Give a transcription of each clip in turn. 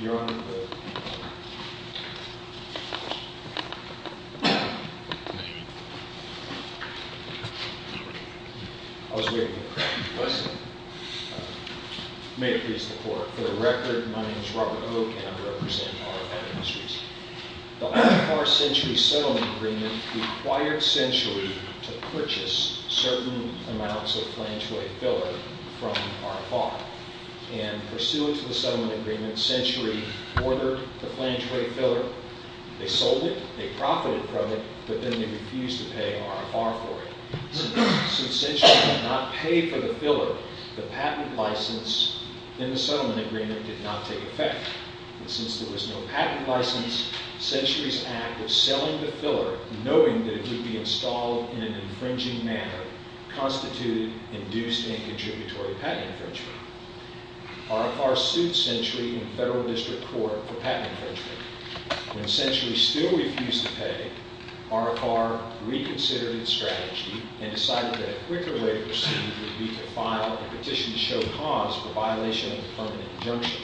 You're on the record, my name is Robert Koch and I'm representing RFI Industries. The RFR Century Settlement Agreement required Century to purchase certain amounts of flangeway filler from RFI. And pursuant to the settlement agreement, Century ordered the flangeway filler. They sold it, they profited from it, but then they refused to pay RFI for it. Since Century did not pay for the filler, the patent license in the settlement agreement did not take effect. Since there was no patent license, Century's act of selling the filler, knowing that it would be installed in an infringing manner, constituted induced and contributory patent infringement. RFR sued Century in federal district court for patent infringement. When Century still refused to pay, RFR reconsidered its strategy and decided that a quicker way to proceed would be to file a petition to show cause for violation of the permanent injunction.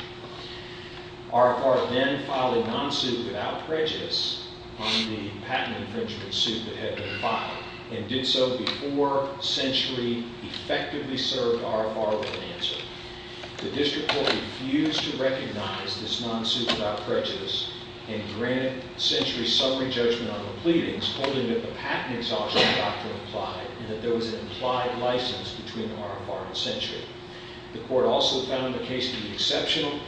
RFR then filed a non-suit without prejudice on the patent infringement suit that had been filed and did so before Century effectively served RFR with an answer. The district court refused to recognize this non-suit without prejudice and granted Century summary judgment on the pleadings, holding that the patent exhaustion doctrine applied and that there was an implied license between RFR and Century. The court also found the case to be exceptional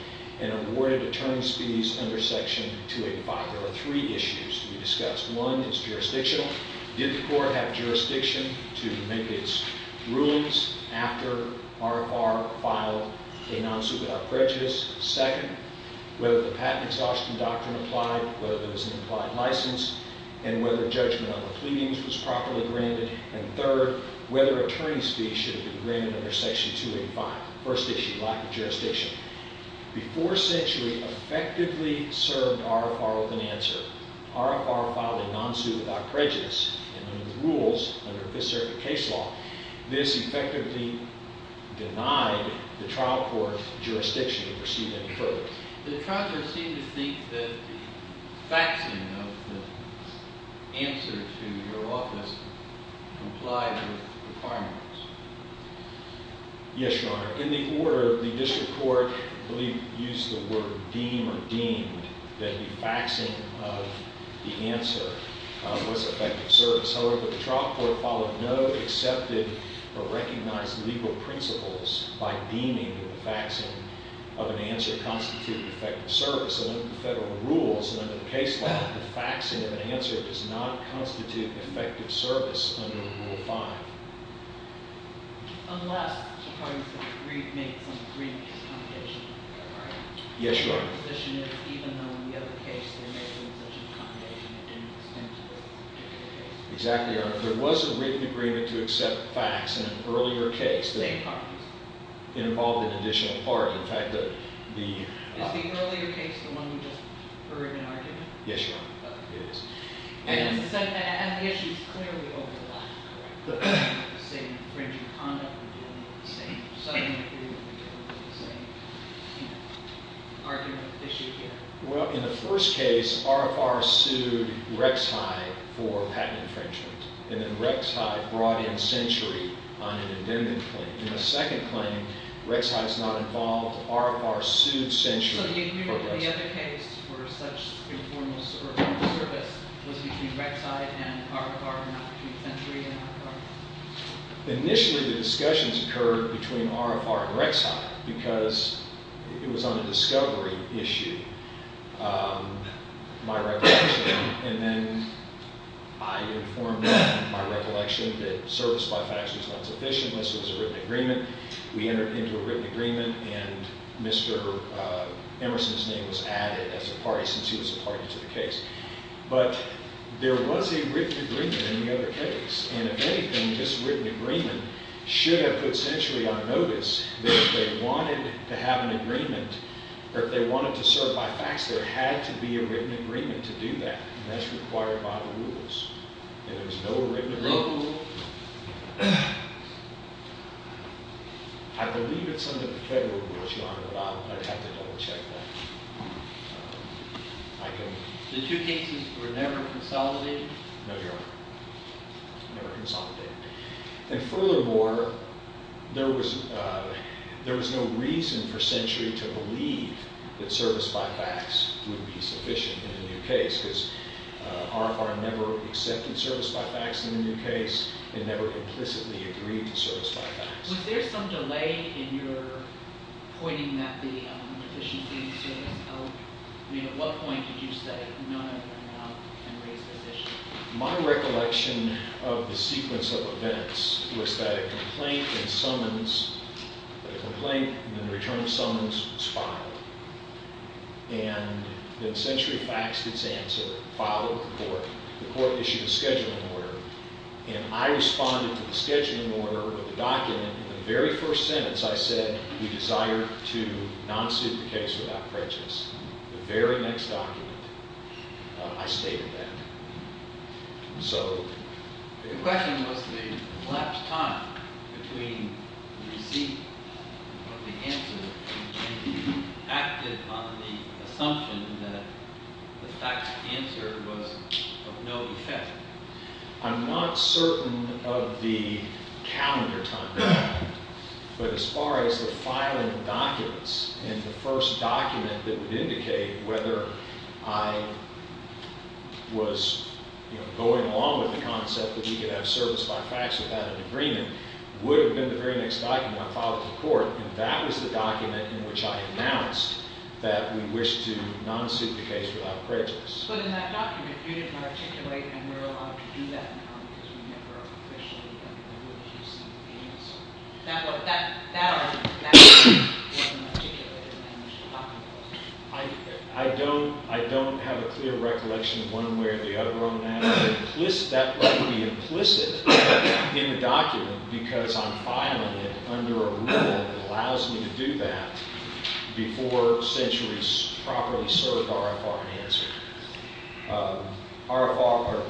and awarded attorney's fees under Section 285. There are three issues to be discussed. One is jurisdictional. Did the court have jurisdiction to make its rulings after RFR filed a non-suit without prejudice? Second, whether the patent exhaustion doctrine applied, whether there was an implied license, and whether judgment on the pleadings was properly granted. And third, whether attorney's fees should have been granted under Section 285. First issue, lack of jurisdiction. Before Century effectively served RFR with an answer. RFR filed a non-suit without prejudice and under the rules, under this circuit case law, this effectively denied the trial court jurisdiction to proceed any further. The trial court seemed to think that the faxing of the answer to your office complied with the requirements. Yes, Your Honor. In the order, the district court, I believe, used the word deem or deemed that the faxing of the answer was effective service. However, the trial court followed no accepted or recognized legal principles by deeming that the faxing of an answer constituted effective service. And under the federal rules, and under the case law, the faxing of an answer does not constitute effective service under Rule 5. Unless the parties agreed to make some agreement as a combination of the two, right? Yes, Your Honor. The proposition is even though in the other case they're making such a combination, it didn't extend to this particular case. Exactly, Your Honor. There was a written agreement to accept fax in an earlier case. Same parties. Involved an additional party. In fact, the- Is the earlier case the one you just heard in argument? Yes, Your Honor. It is. And the issue is clearly overlapped, correct? Well, in the first case, RFR sued Rex High for patent infringement. And then Rex High brought in Century on an independent claim. In the second claim, Rex High is not involved. RFR sued Century for patent infringement. So the agreement for the other case for such informal service was between Rex High and RFR, not between Century and RFR? Initially, the discussions occurred between RFR and Rex High because it was on a discovery issue, my recollection. And then I informed them, my recollection, that service by fax was not sufficient. This was a written agreement. We entered into a written agreement. And Mr. Emerson's name was added as a party since he was a party to the case. But there was a written agreement in the other case. And if anything, this written agreement should have put Century on notice that if they wanted to have an agreement or if they wanted to serve by fax, there had to be a written agreement to do that. And that's required by the rules. And there's no written agreement. I believe it's under the Federal Rules, Your Honor, but I'd have to double-check that. I can... The two cases were never consolidated? No, Your Honor. Never consolidated. And furthermore, there was no reason for Century to believe that service by fax would be sufficient in the new case because RFR never accepted service by fax in the new case and never implicitly agreed to service by fax. Was there some delay in your pointing that the deficiency in service... I mean, at what point did you say, no, no, no, no, I can raise this issue? My recollection of the sequence of events was that a complaint and summons... The complaint and the return of summons was filed. And then Century faxed its answer, followed the court. The court issued a scheduling order. And I responded to the scheduling order of the document. In the very first sentence, I said, we desire to non-suit the case without prejudice. The very next document, I stated that. So... The question was the elapsed time between receipt of the answer and being active on the assumption that the faxed answer was of no effect. I'm not certain of the calendar time. But as far as the filing of documents and the first document that would indicate whether I was going along with the concept that we could have service by fax without an agreement would have been the very next document I filed to court. And that was the document in which I announced that we wished to non-suit the case without prejudice. But in that document, you didn't articulate, and we're allowed to do that now because we never officially have the ability to submit the answer. That wasn't articulated in the document. I don't have a clear recollection of one way or the other on that. That might be implicit in the document because I'm filing it under a rule that allows me to do that before Century's properly served RFR answer.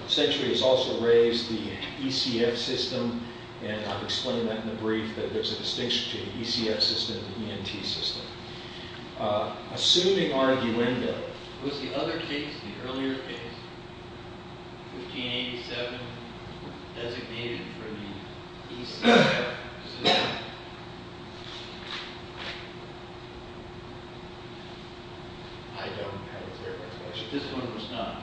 Century has also raised the ECF system, and I've explained that in the brief, that there's a distinction between the ECF system and the ENT system. Assuming arguendo. Was the other case, the earlier case, 1587, designated for the ECF system? I don't have a clear recollection. This one was not?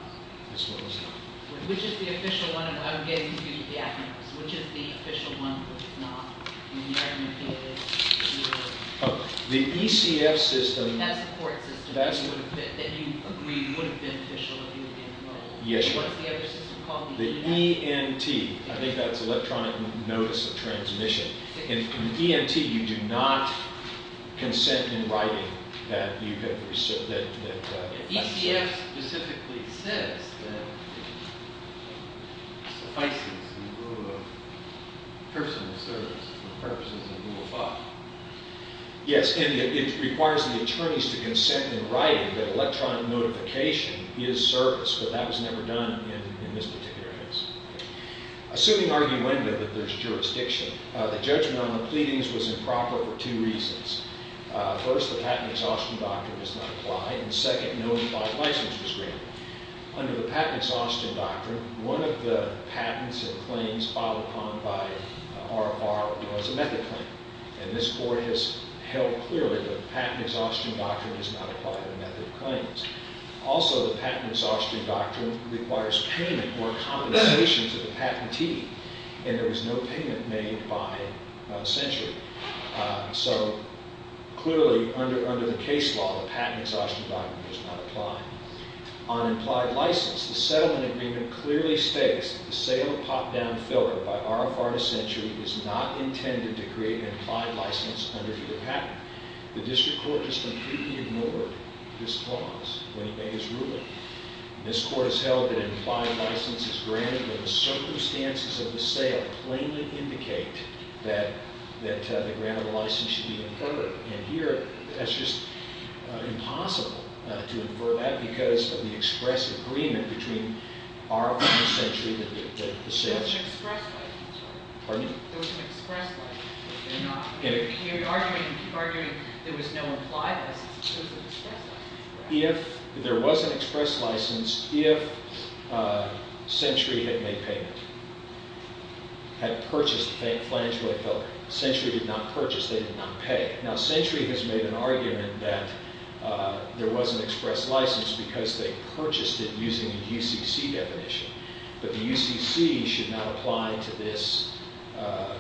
This one was not. Which is the official one? I'm getting to the evidence. Which is the official one, which is not? I mean, the argument here is that it was. The ECF system... That's the court system that you agreed would have been official if you had been involved. Yes, ma'am. What's the other system called? The ENT. I think that's electronic notice of transmission. In ENT, you do not consent in writing that you have received... ECF specifically says that it suffices the rule of personal service for the purposes of Rule 5. Yes, and it requires the attorneys to consent in writing that electronic notification is service, but that was never done in this particular case. Assuming arguendo that there's jurisdiction, the judgment on the pleadings was improper for two reasons. First, the patent exhaustion doctrine does not apply, and second, no implied license was granted. Under the patent exhaustion doctrine, one of the patents and claims filed upon by RFR was a method claim, and this court has held clearly that the patent exhaustion doctrine does not apply to the method claims. Also, the patent exhaustion doctrine requires payment or compensation to the patentee, and there was no payment made by censure. So clearly, under the case law, the patent exhaustion doctrine does not apply. On implied license, the settlement agreement clearly states that the sale of pop-down filler by RFR to censure is not intended to create an implied license under the patent. The district court has completely ignored this clause when it made its ruling. This court has held that implied license is granted, but the circumstances of the sale plainly indicate that the grant of the license should be inferred. And here, that's just impossible to infer that because of the express agreement between RFR and censure that the sales- There was an express license. Pardon me? There was an express license. You're arguing there was no implied license, but there was an express license. If there was an express license, if censure had made payment, had purchased the flange-weight filler, censure did not purchase, they did not pay. Now, censure has made an argument that there was an express license because they purchased it using the UCC definition, but the UCC should not apply to this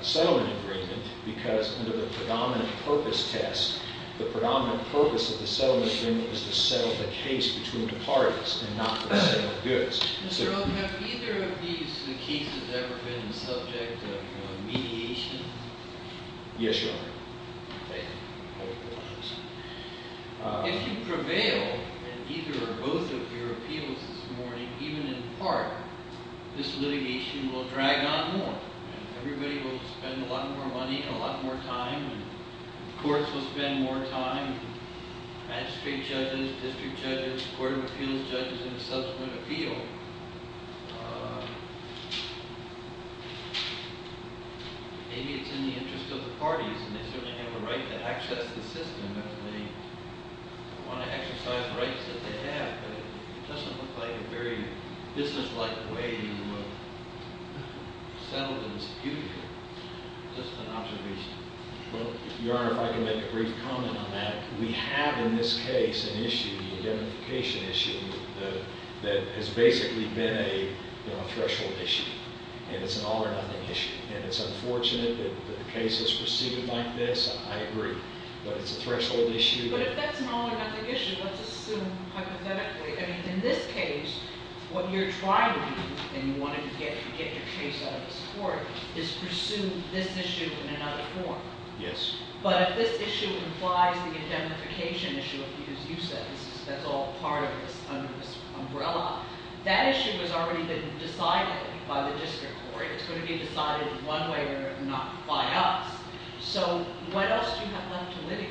settlement agreement because under the predominant purpose test, the predominant purpose of the settlement agreement was to settle the case between the parties and not for the sale of goods. Mr. Oak, have either of these cases ever been the subject of mediation? Yes, Your Honor. Thank you. If you prevail in either or both of your appeals this morning, even in part, this litigation will drag on more. Everybody will spend a lot more money and a lot more time, and courts will spend more time, magistrate judges, district judges, court of appeals judges in the subsequent appeal. Maybe it's in the interest of the parties, and they certainly have a right to access the system if they want to exercise rights that they have, but it doesn't look like a very businesslike way to settle an execution. Just an observation. Well, Your Honor, if I can make a brief comment on that. We have in this case an issue, an identification issue, that has basically been a threshold issue, and it's an all-or-nothing issue. And it's unfortunate that the case is proceeded like this. I agree. But it's a threshold issue. But if that's an all-or-nothing issue, let's assume hypothetically. I mean, in this case, what you're trying to do, and you wanted to get your case out of this court, is pursue this issue in another form. Yes. But if this issue implies the identification issue of the accused, you said that's all part of this umbrella, that issue has already been decided by the district court. It's going to be decided one way or another, not by us. So what else do you have left to litigate?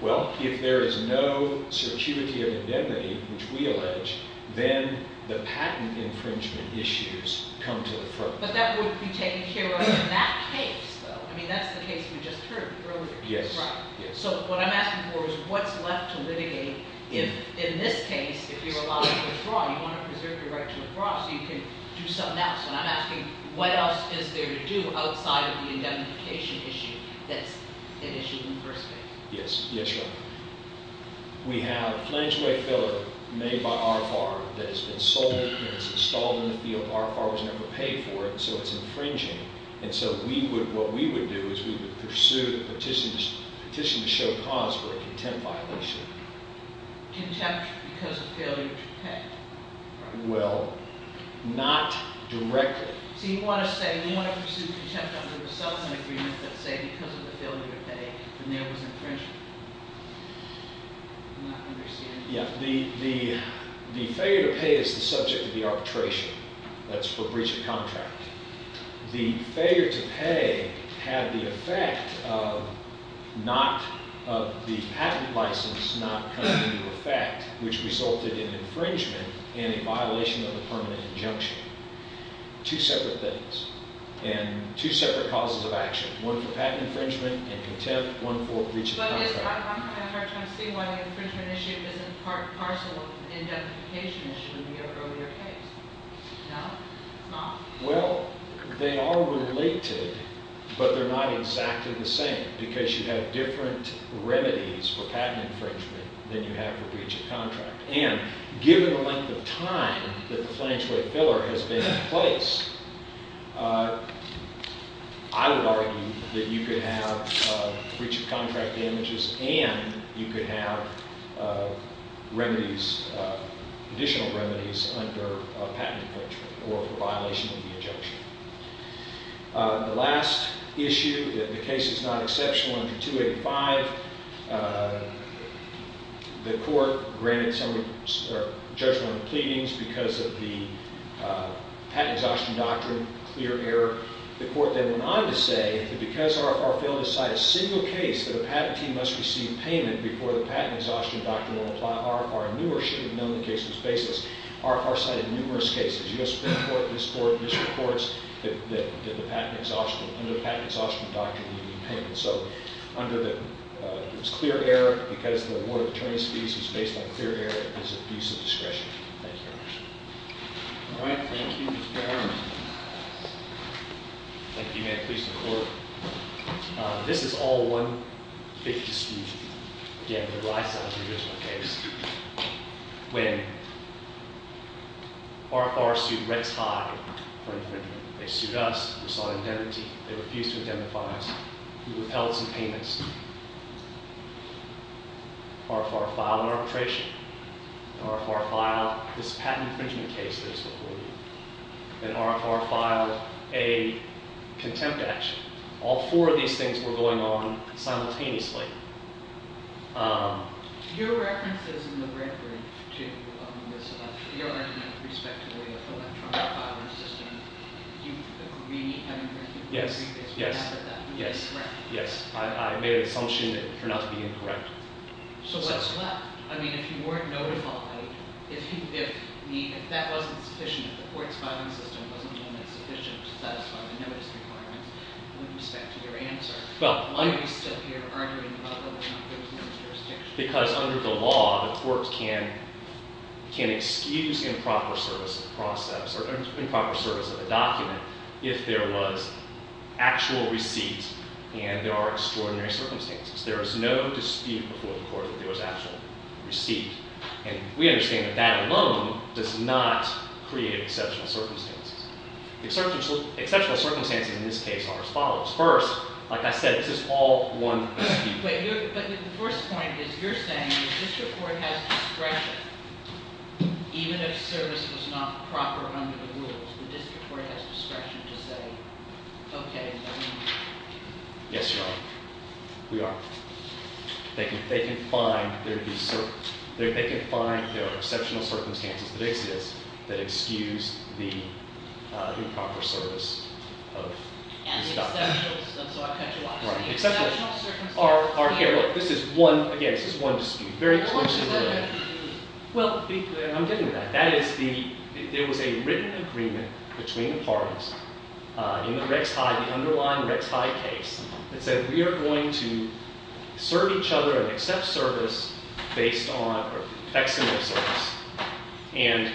Well, if there is no certuity of indemnity, which we allege, then the patent infringement issues come to the front. But that would be taken care of in that case, though. I mean, that's the case we just heard earlier. Yes. So what I'm asking for is what's left to litigate if, in this case, if you're allowed to withdraw, you want to preserve your right to withdraw so you can do something else. And I'm asking what else is there to do outside of the indemnification issue that's an issue in the first place. Yes. Yes, Your Honor. We have a flange way filler made by RFR that has been sold and it's installed in the field. RFR was never paid for it, so it's infringing. And so what we would do is we would pursue a petition to show cause for a contempt violation. Contempt because of failure to pay. Well, not directly. So you want to say you want to pursue contempt under the settlement agreement, but say because of the failure to pay, the mail was infringed. I'm not understanding. Yes. The failure to pay is the subject of the arbitration. That's for breach of contract. The failure to pay had the effect of not of the patent license not coming into effect, which resulted in infringement and a violation of the permanent injunction. Two separate things. And two separate causes of action. One for patent infringement and contempt, one for breach of contract. But I'm having a hard time seeing why the infringement issue isn't part and parcel of the indemnification issue in your earlier case. No? Well, they are related, but they're not exactly the same because you have different remedies for patent infringement than you have for breach of contract. And given the length of time that the flange-weight filler has been in place, I would argue that you could have breach of contract damages, and you could have remedies, additional remedies, under patent infringement or for violation of the injunction. The last issue that the case is not exceptional under 285, the court granted judgment on the pleadings because of the patent exhaustion doctrine, clear error. The court then went on to say that because RFR failed to cite a single case that a patentee must receive payment before the patent exhaustion doctrine will apply, RFR knew or should have known the case was baseless. RFR cited numerous cases. U.S. Supreme Court, this court, district courts that did the patent exhaustion. Under the patent exhaustion doctrine, you need payment. So under the clear error, because the award of attorneys fees is based on clear error, is abuse of discretion. Thank you very much. All right. Thank you, Mr. Chairman. Thank you. May it please the court. This is all one big dispute. Again, the rise of the original case. When RFR sued Red Tie for infringement. They sued us. We sought indemnity. They refused to indemnify us. We withheld some payments. RFR filed an arbitration. RFR filed this patent infringement case that is before you. And RFR filed a contempt action. All four of these things were going on simultaneously. Your reference is in the red brief, too, on this election. Your argument with respect to the electronic filing system. Do you agree with having red brief? Yes. Yes. Yes. Yes. I made an assumption that it turned out to be incorrect. So what's left? I mean, if you weren't notified, if that wasn't sufficient, if the court's filing system wasn't done in sufficient to satisfy the notice requirements with respect to your answer, why are you still here arguing about whether or not there was no jurisdiction? Because under the law, the courts can excuse improper service of a process or improper service of a document if there was actual receipt and there are extraordinary circumstances. There is no dispute before the court that there was actual receipt. And we understand that that alone does not create exceptional circumstances. Exceptional circumstances in this case are as follows. First, like I said, this is all one dispute. But the first point is you're saying the district court has discretion, even if service was not proper under the rules. The district court has discretion to say, OK. Yes, Your Honor. We are. They can find there are exceptional circumstances that exist that excuse the improper service of this document. And the exceptionals. And so I've cut you off. Right. Exceptional circumstances are here. Look, this is one, again, this is one dispute. Very exclusive. Well, I'm getting to that. That is the, there was a written agreement between the parties in the Rex Hyde, the underlying Rex Hyde case, that said we are going to serve each other and accept service based on facsimile service. And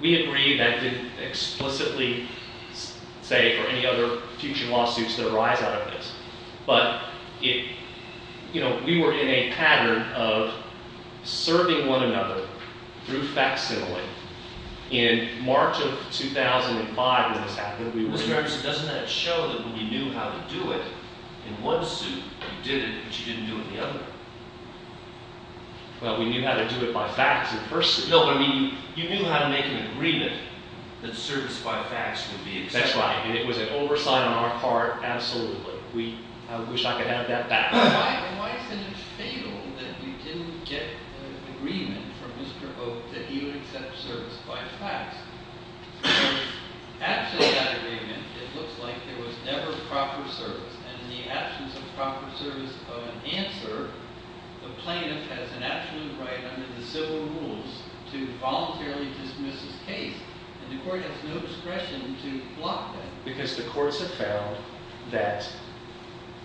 we agree that didn't explicitly say for any other future lawsuits that arise out of this. But we were in a pattern of serving one another through facsimile. In March of 2005, when this happened, we were. Mr. Anderson, doesn't that show that when you knew how to do it in one suit, you did it, but you didn't do it in the other? Well, we knew how to do it by fax in person. No, but I mean, you knew how to make an agreement that service by fax would be accepted. That's right. And it was an oversight on our part, absolutely. We, I wish I could have that back. And why isn't it fatal that you didn't get an agreement from Mr. Oak that he would accept service by fax? Because absent that agreement, it looks like there was never proper service. And in the absence of proper service of an answer, the plaintiff has an absolute right under the civil rules to voluntarily dismiss his case. And the court has no discretion to block that. Because the courts have found that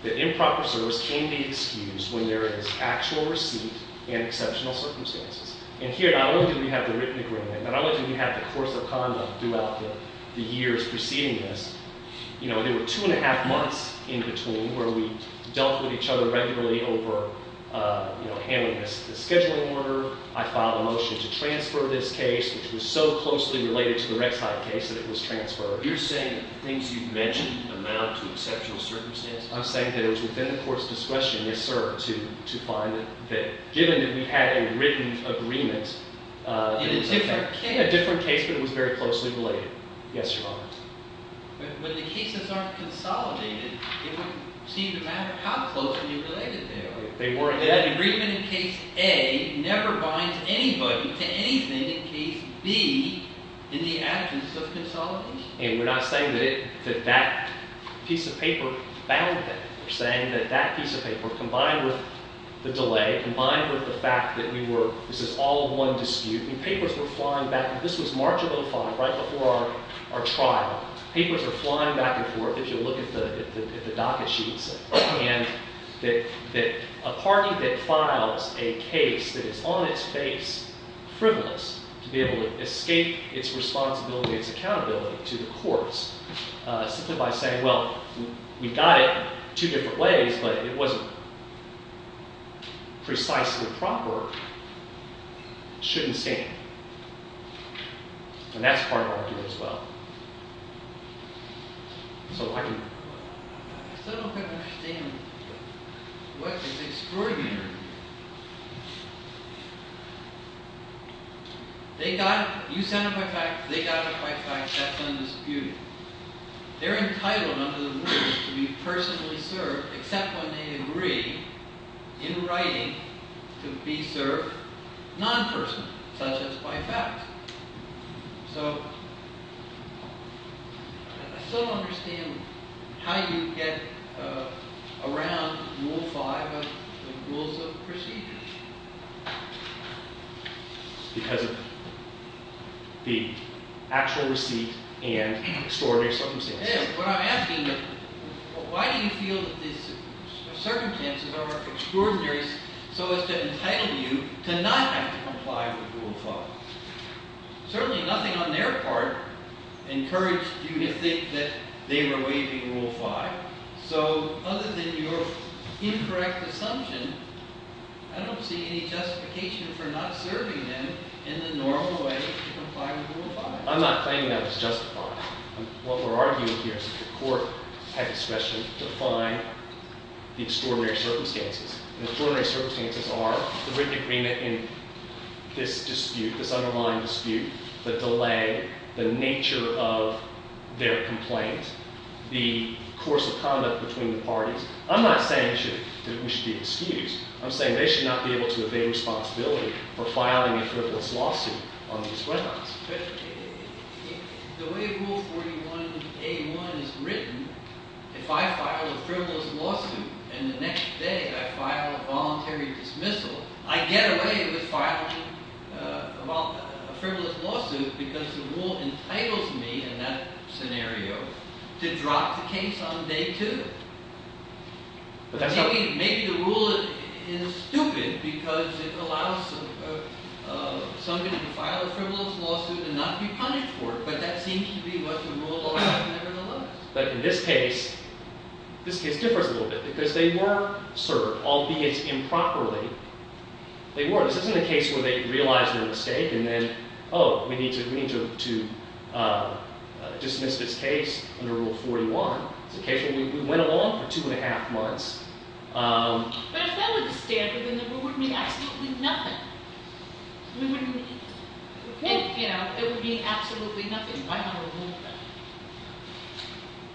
the improper service can be excused when there is actual receipt and exceptional circumstances. And here, not only do we have the written agreement, not only do we have the course of conduct throughout the years preceding this. You know, there were two and a half months in between where we dealt with each other regularly over handling the scheduling order. I filed a motion to transfer this case, which was so closely related to the Rek'sai case that it was transferred. You're saying things you've mentioned amount to exceptional circumstances? I'm saying that it was within the court's discretion, yes sir, to find that given that we had a written agreement. In a different case? A different case, but it was very closely related. Yes, Your Honor. But when the cases aren't consolidated, it would seem to matter how closely related they are. They weren't. An agreement in case A never binds anybody to anything in case B in the absence of consolidation. And we're not saying that that piece of paper bound them. We're saying that that piece of paper, combined with the delay, combined with the fact that we were, this is all one dispute, and papers were flying back and forth. This was March of 2005, right before our trial. Papers were flying back and forth. If you look at the docket sheets, and that a party that files a case that is on its face frivolous to be able to escape its responsibility, its accountability to the courts, simply by saying, well, we got it two different ways, but it wasn't precisely proper, shouldn't stand. And that's part of our argument as well. So I can. I still don't quite understand what is extraordinary. They got it. You sound quite right. They got it quite right. That's undisputed. They're entitled under the rules to be personally served, except when they agree, in writing, to be served non-personally, such as by fact. So I still don't understand how you get around rule five of the rules of procedure. Because of the actual receipt and extraordinary circumstances. What I'm asking is, why do you feel that these circumstances are extraordinary so as to entitle you to not have to comply with rule five? Certainly nothing on their part encouraged you to think that they were waiving rule five. So other than your incorrect assumption, I don't see any justification for not serving them in the normal way to comply with rule five. I'm not claiming that it's justified. What we're arguing here is that the court had discretion to define the extraordinary circumstances. The extraordinary circumstances are the written agreement in this dispute, this underlying dispute, the delay, the nature of their complaint, the course of conduct between the parties. I'm not saying that we should be excused. I'm saying they should not be able to evade responsibility for filing a frivolous lawsuit on these grounds. The way rule 41A1 is written, if I file a frivolous lawsuit, and the next day I file a voluntary dismissal, I get away with filing a frivolous lawsuit because the rule entitles me, in that scenario, to drop the case on day two. Maybe the rule is stupid because it allows somebody to file a frivolous lawsuit and not be punished for it, but that seems to be what the rule allows, nevertheless. But in this case, this case differs a little bit because they were served, albeit improperly. They were. This isn't a case where they realize their mistake and then, oh, we need to dismiss this case under rule 41. It's a case where we went along for two and a half months. But if that were the standard, then the rule would mean absolutely nothing. I mean, what do you mean? If it would mean absolutely nothing, why not remove it?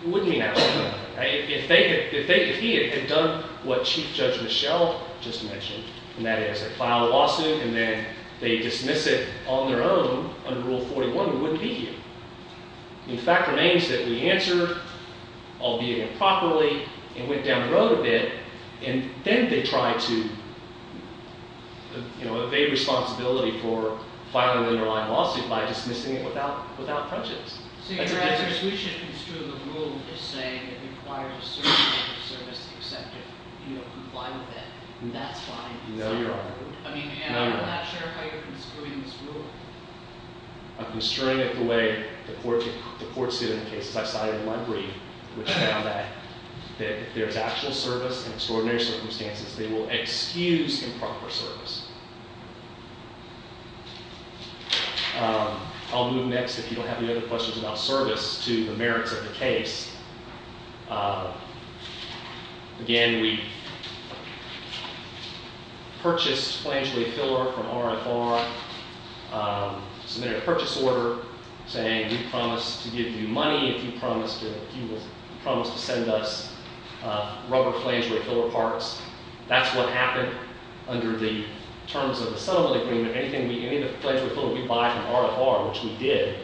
It wouldn't mean absolutely nothing. If he had done what Chief Judge Michelle just mentioned, and that is file a lawsuit and then they dismiss it on their own under rule 41, we wouldn't be here. The fact remains that we answered, albeit improperly, and went down the road a bit. And then they try to evade responsibility for filing an underlying lawsuit by dismissing it without prejudice. That's a big difference. So your answer is we should construe the rule as saying it requires a certain amount of service except if you don't comply with it. And that's fine. No, Your Honor. I mean, and I'm not sure how you're construing this rule. I'm construing it the way the courts did in the cases I cited in my brief, which found that if there's actual service in extraordinary circumstances, they will excuse improper service. I'll move next. If you don't have any other questions about service to the merits of the case. Again, we purchased flangely filler from RFR. Submitted a purchase order saying we promise to give you money if you promise to send us rubber flangely filler parts. That's what happened under the terms of the settlement agreement. Any flangely filler we buy from RFR, which we did,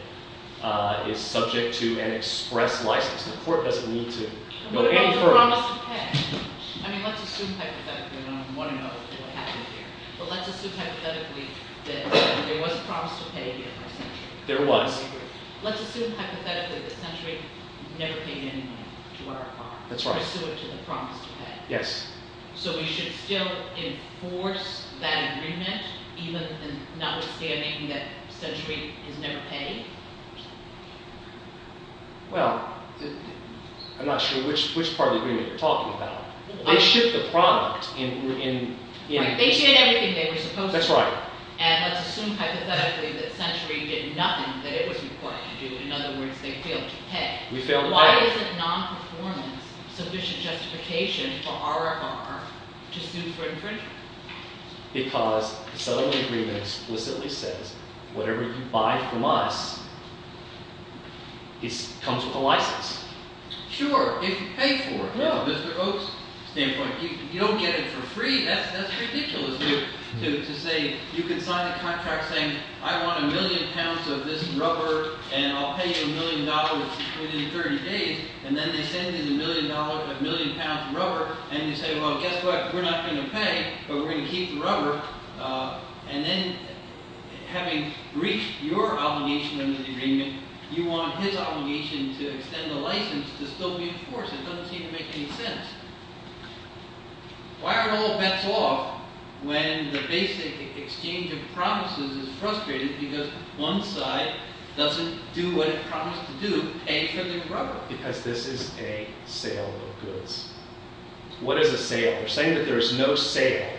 is subject to an express license. The court doesn't need to go any further. But there was a promise to pay. I mean, let's assume hypothetically, and I want to know what happened here. But let's assume hypothetically that there was a promise to pay here for Century. There was. Let's assume hypothetically that Century never paid any money to RFR. That's right. Pursuant to the promise to pay. Yes. So we should still enforce that agreement, even in notwithstanding that Century is never paid? Well, I'm not sure which part of the agreement you're talking about. They shipped the product. Right. They did everything they were supposed to. That's right. And let's assume hypothetically that Century did nothing that it was required to do. In other words, they failed to pay. We failed to pay. Why isn't non-performance sufficient justification for RFR to sue for infringement? Because the settlement agreement explicitly says whatever you buy from us comes with a license. Sure, if you pay for it. From Mr. Oates' standpoint, you don't get it for free. That's ridiculous to say you can sign a contract saying, I want a million pounds of this rubber, and I'll pay you a million dollars within 30 days. And then they send you the million pounds of rubber, and you say, well, guess what? We're not going to pay, but we're going to keep the rubber. And then having reached your obligation under the agreement, you want his obligation to extend the license to still be in force. It doesn't seem to make any sense. Why are all bets off when the basic exchange of promises is frustrating because one side doesn't do what it promised to do, pay for the rubber? Because this is a sale of goods. What is a sale? We're saying that there is no sale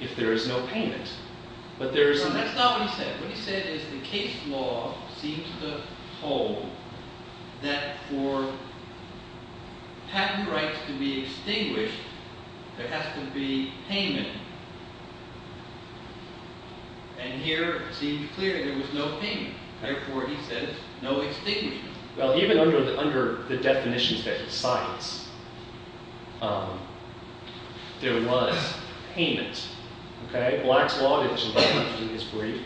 if there is no payment. That's not what he said. What he said is the case law seems to hold that for patent rights to be extinguished, there has to be payment. And here, it seems clear there was no payment. Therefore, he says, no extinguishment. Well, even under the definitions that he cites, there was payment. OK? Black's Law, which I'm not going to do in this brief,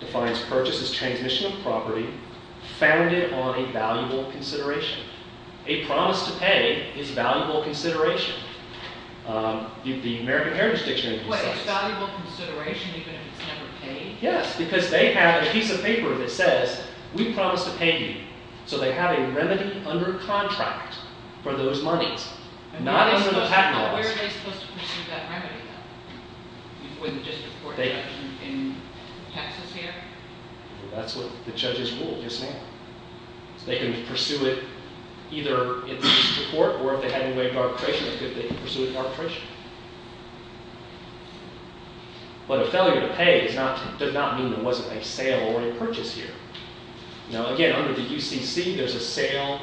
defines purchase as transmission of property founded on a valuable consideration. A promise to pay is valuable consideration. The American Heritage Dictionary, he cites. What? It's valuable consideration even if it's never paid? Yes. Because they have a piece of paper that says, we promise to pay you. So they have a remedy under contract for those monies. Not under the patent laws. Where are they supposed to pursue that remedy, though? With just the court action in Texas here? That's what the judges ruled, yes ma'am. They can pursue it either in the court or if they had any way of arbitration, they could pursue it in arbitration. But a failure to pay does not mean there wasn't a sale or a purchase here. Now, again, under the UCC, there's a sale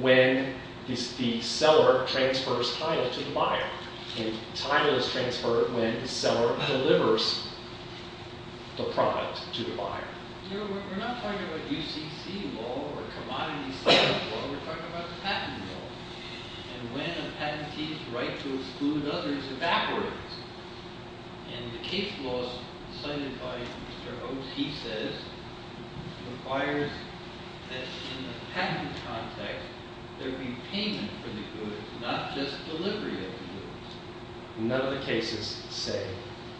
when the seller transfers title to the buyer. And title is transferred when the seller delivers the product to the buyer. We're not talking about UCC law or commodity sales law. We're talking about the patent law. And when a patentee's right to exclude others evaporates. And the case laws cited by Mr. Oates, he says, requires that in the patent context, there be payment for the goods, not just delivery of the goods. None of the cases say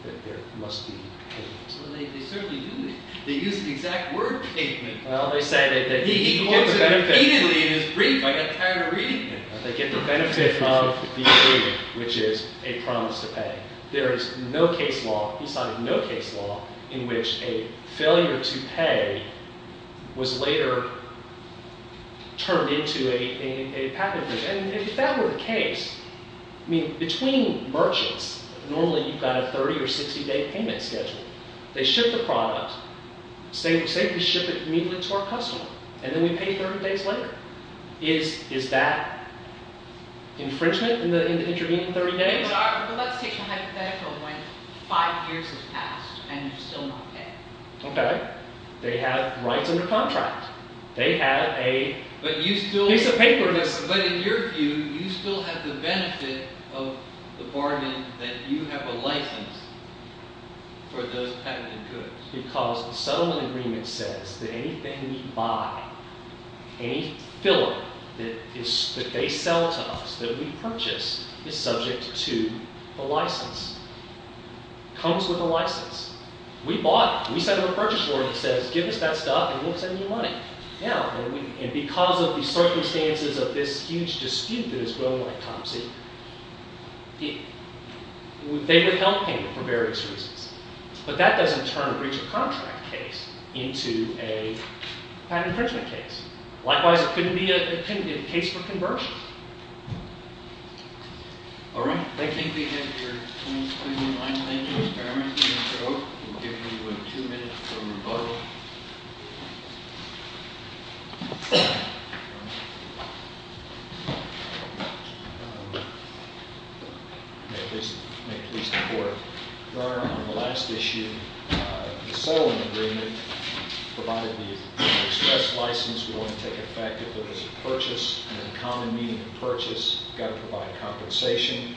that there must be payment. They certainly do. They use the exact word payment. Well, they say that you get the benefit. He quotes it repeatedly in his brief. I got tired of reading it. They get the benefit of the agreement, which is a promise to pay. There is no case law, he cited no case law, in which a failure to pay was later turned into a patent breach. And if that were the case, I mean, between merchants, normally you've got a 30 or 60-day payment schedule. They ship the product. Say we ship it immediately to our customer. And then we pay 30 days later. Is that infringement in the intervening 30 days? But let's take a hypothetical when five years have passed and you're still not paying. OK. They have rights under contract. They have a piece of paper that's- But in your view, you still have the benefit of the bargain that you have a license for those patented goods. Because the settlement agreement says that anything we buy, any filler that they sell to us, that we purchase, is subject to a license. Comes with a license. We bought it. We sent it to the purchase board and it says, give us that stuff and we'll send you money. And because of the circumstances of this huge dispute that is growing like topsy-turvy, they would help him for various reasons. But that doesn't turn a breach of contract case into a patent infringement case. Likewise, it couldn't be a case for conversion. All right. Thank you. We have your 20-29. Thank you. We'll give you two minutes for rebuttal. May it please the court. Your Honor, on the last issue, the settlement agreement provided the express license. We want to take it back. If there was a purchase and a common meaning of purchase, you've got to provide a compensation.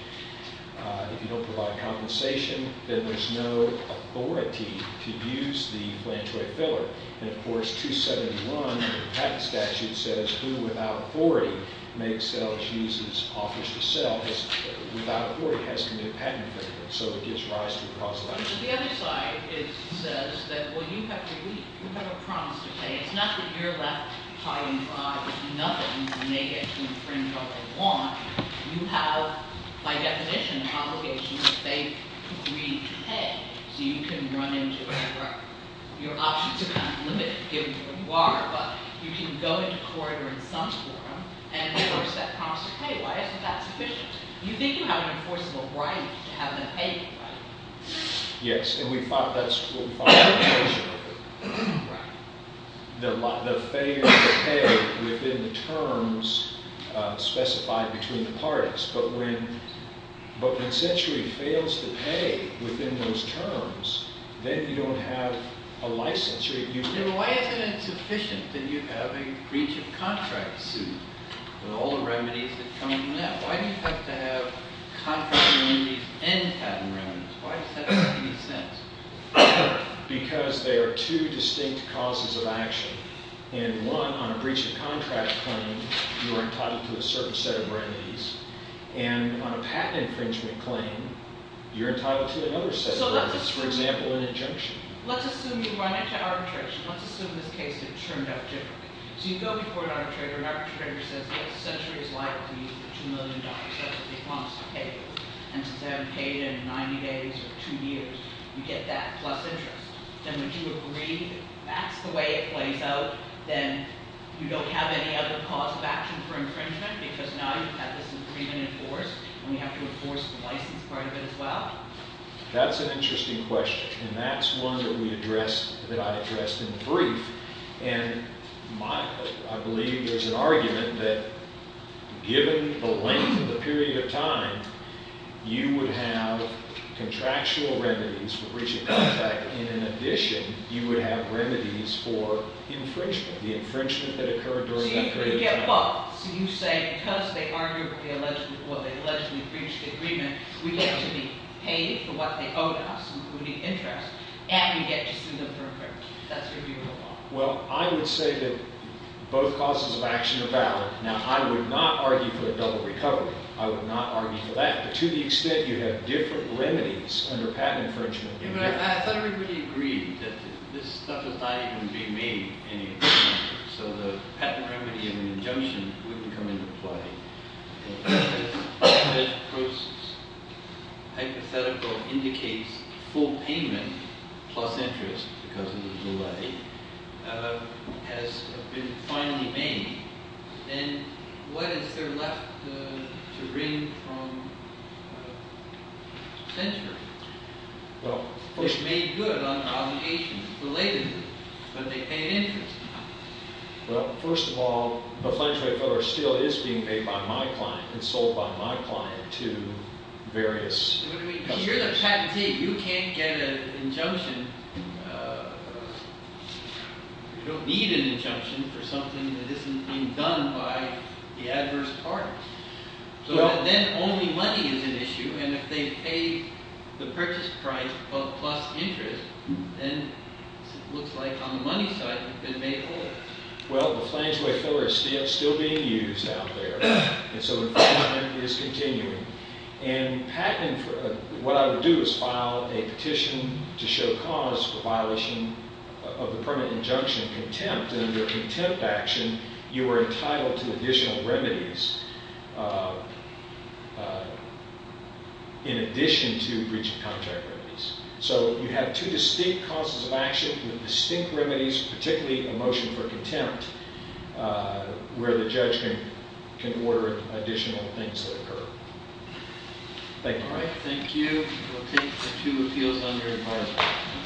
If you don't provide a compensation, then there's no authority to use the flange rate filler. And of course, 271 of the patent statute says, who without authority makes, sells, uses, offers to sell, without authority has to make a patent infringement. So it gives rise to the possibility. On the other side, it says that, well, you have to leave. You have a promise to pay. It's not that you're left hiding behind with nothing and you may get to infringe on what you want. You have, by definition, an obligation to beg, to plead, to pay. So you can run into whatever. Your options are kind of limited, given who you are. But you can go into court or in some forum and enforce that promise to pay. Why isn't that sufficient? You think you have an enforceable right to have them pay you, right? Yes. And we thought that's true. We thought that was true. The failure to pay within the terms specified between the parties. But when Century fails to pay within those terms, then you don't have a license. Why isn't it sufficient that you have a breach of contract suit with all the remedies that come from that? Why do you have to have contract remedies and patent remedies? Why does that make any sense? Because they are two distinct causes of action. And one, on a breach of contract claim, you are entitled to a certain set of remedies. And on a patent infringement claim, you're entitled to another set of remedies. For example, an injunction. Let's assume you run into arbitration. Let's assume this case had turned out differently. So you go before an arbitrator. And the arbitrator says, Century is likely to be worth $2 million. That's what they promised to pay you. And since I haven't paid in 90 days or two years, you get that plus interest. Then would you agree that that's the way it plays out? Then you don't have any other cause of action for infringement because now you've had this agreement enforced. And we have to enforce the license part of it as well? That's an interesting question. And that's one that we addressed, that I addressed in brief. And I believe there's an argument that, given the length of the period of time, you would have contractual remedies for breaching the contract. And in addition, you would have remedies for infringement, the infringement that occurred during that period of time. So you get what? So you say because they argued with the alleged or they allegedly breached the agreement, we get to be paid for what they owed us, including interest. And we get to sue them for infringement. Well, I would say that both causes of action are valid. Now, I would not argue for a double recovery. I would not argue for that. But to the extent you have different remedies under patent infringement... Yeah, but I thought everybody agreed that this stuff was not even being made any different. So the patent remedy and the injunction wouldn't come into play. Hypothetical indicates full payment plus interest because of the delay has been finally made. And what is there left to bring from censure? It's made good on obligations related to it, but they pay an interest amount. Well, first of all, the financial aid filler still is being paid by my client and sold by my client to various... You're the patentee. You can't get an injunction. You don't need an injunction for something that isn't being done by the adverse party. So then only money is an issue. And if they pay the purchase price plus interest, then it looks like on the money side, you've been made whole. Well, the financial aid filler is still being used out there. And so the payment is continuing. And patent... What I would do is file a petition to show cause for violation of the permanent injunction contempt. Under contempt action, you are entitled to additional remedies in addition to breach of contract remedies. So you have two distinct causes of action with distinct remedies, particularly a motion for contempt, where the judge can order additional things to occur. Thank you. All right. Thank you. We'll take the two appeals under advisory.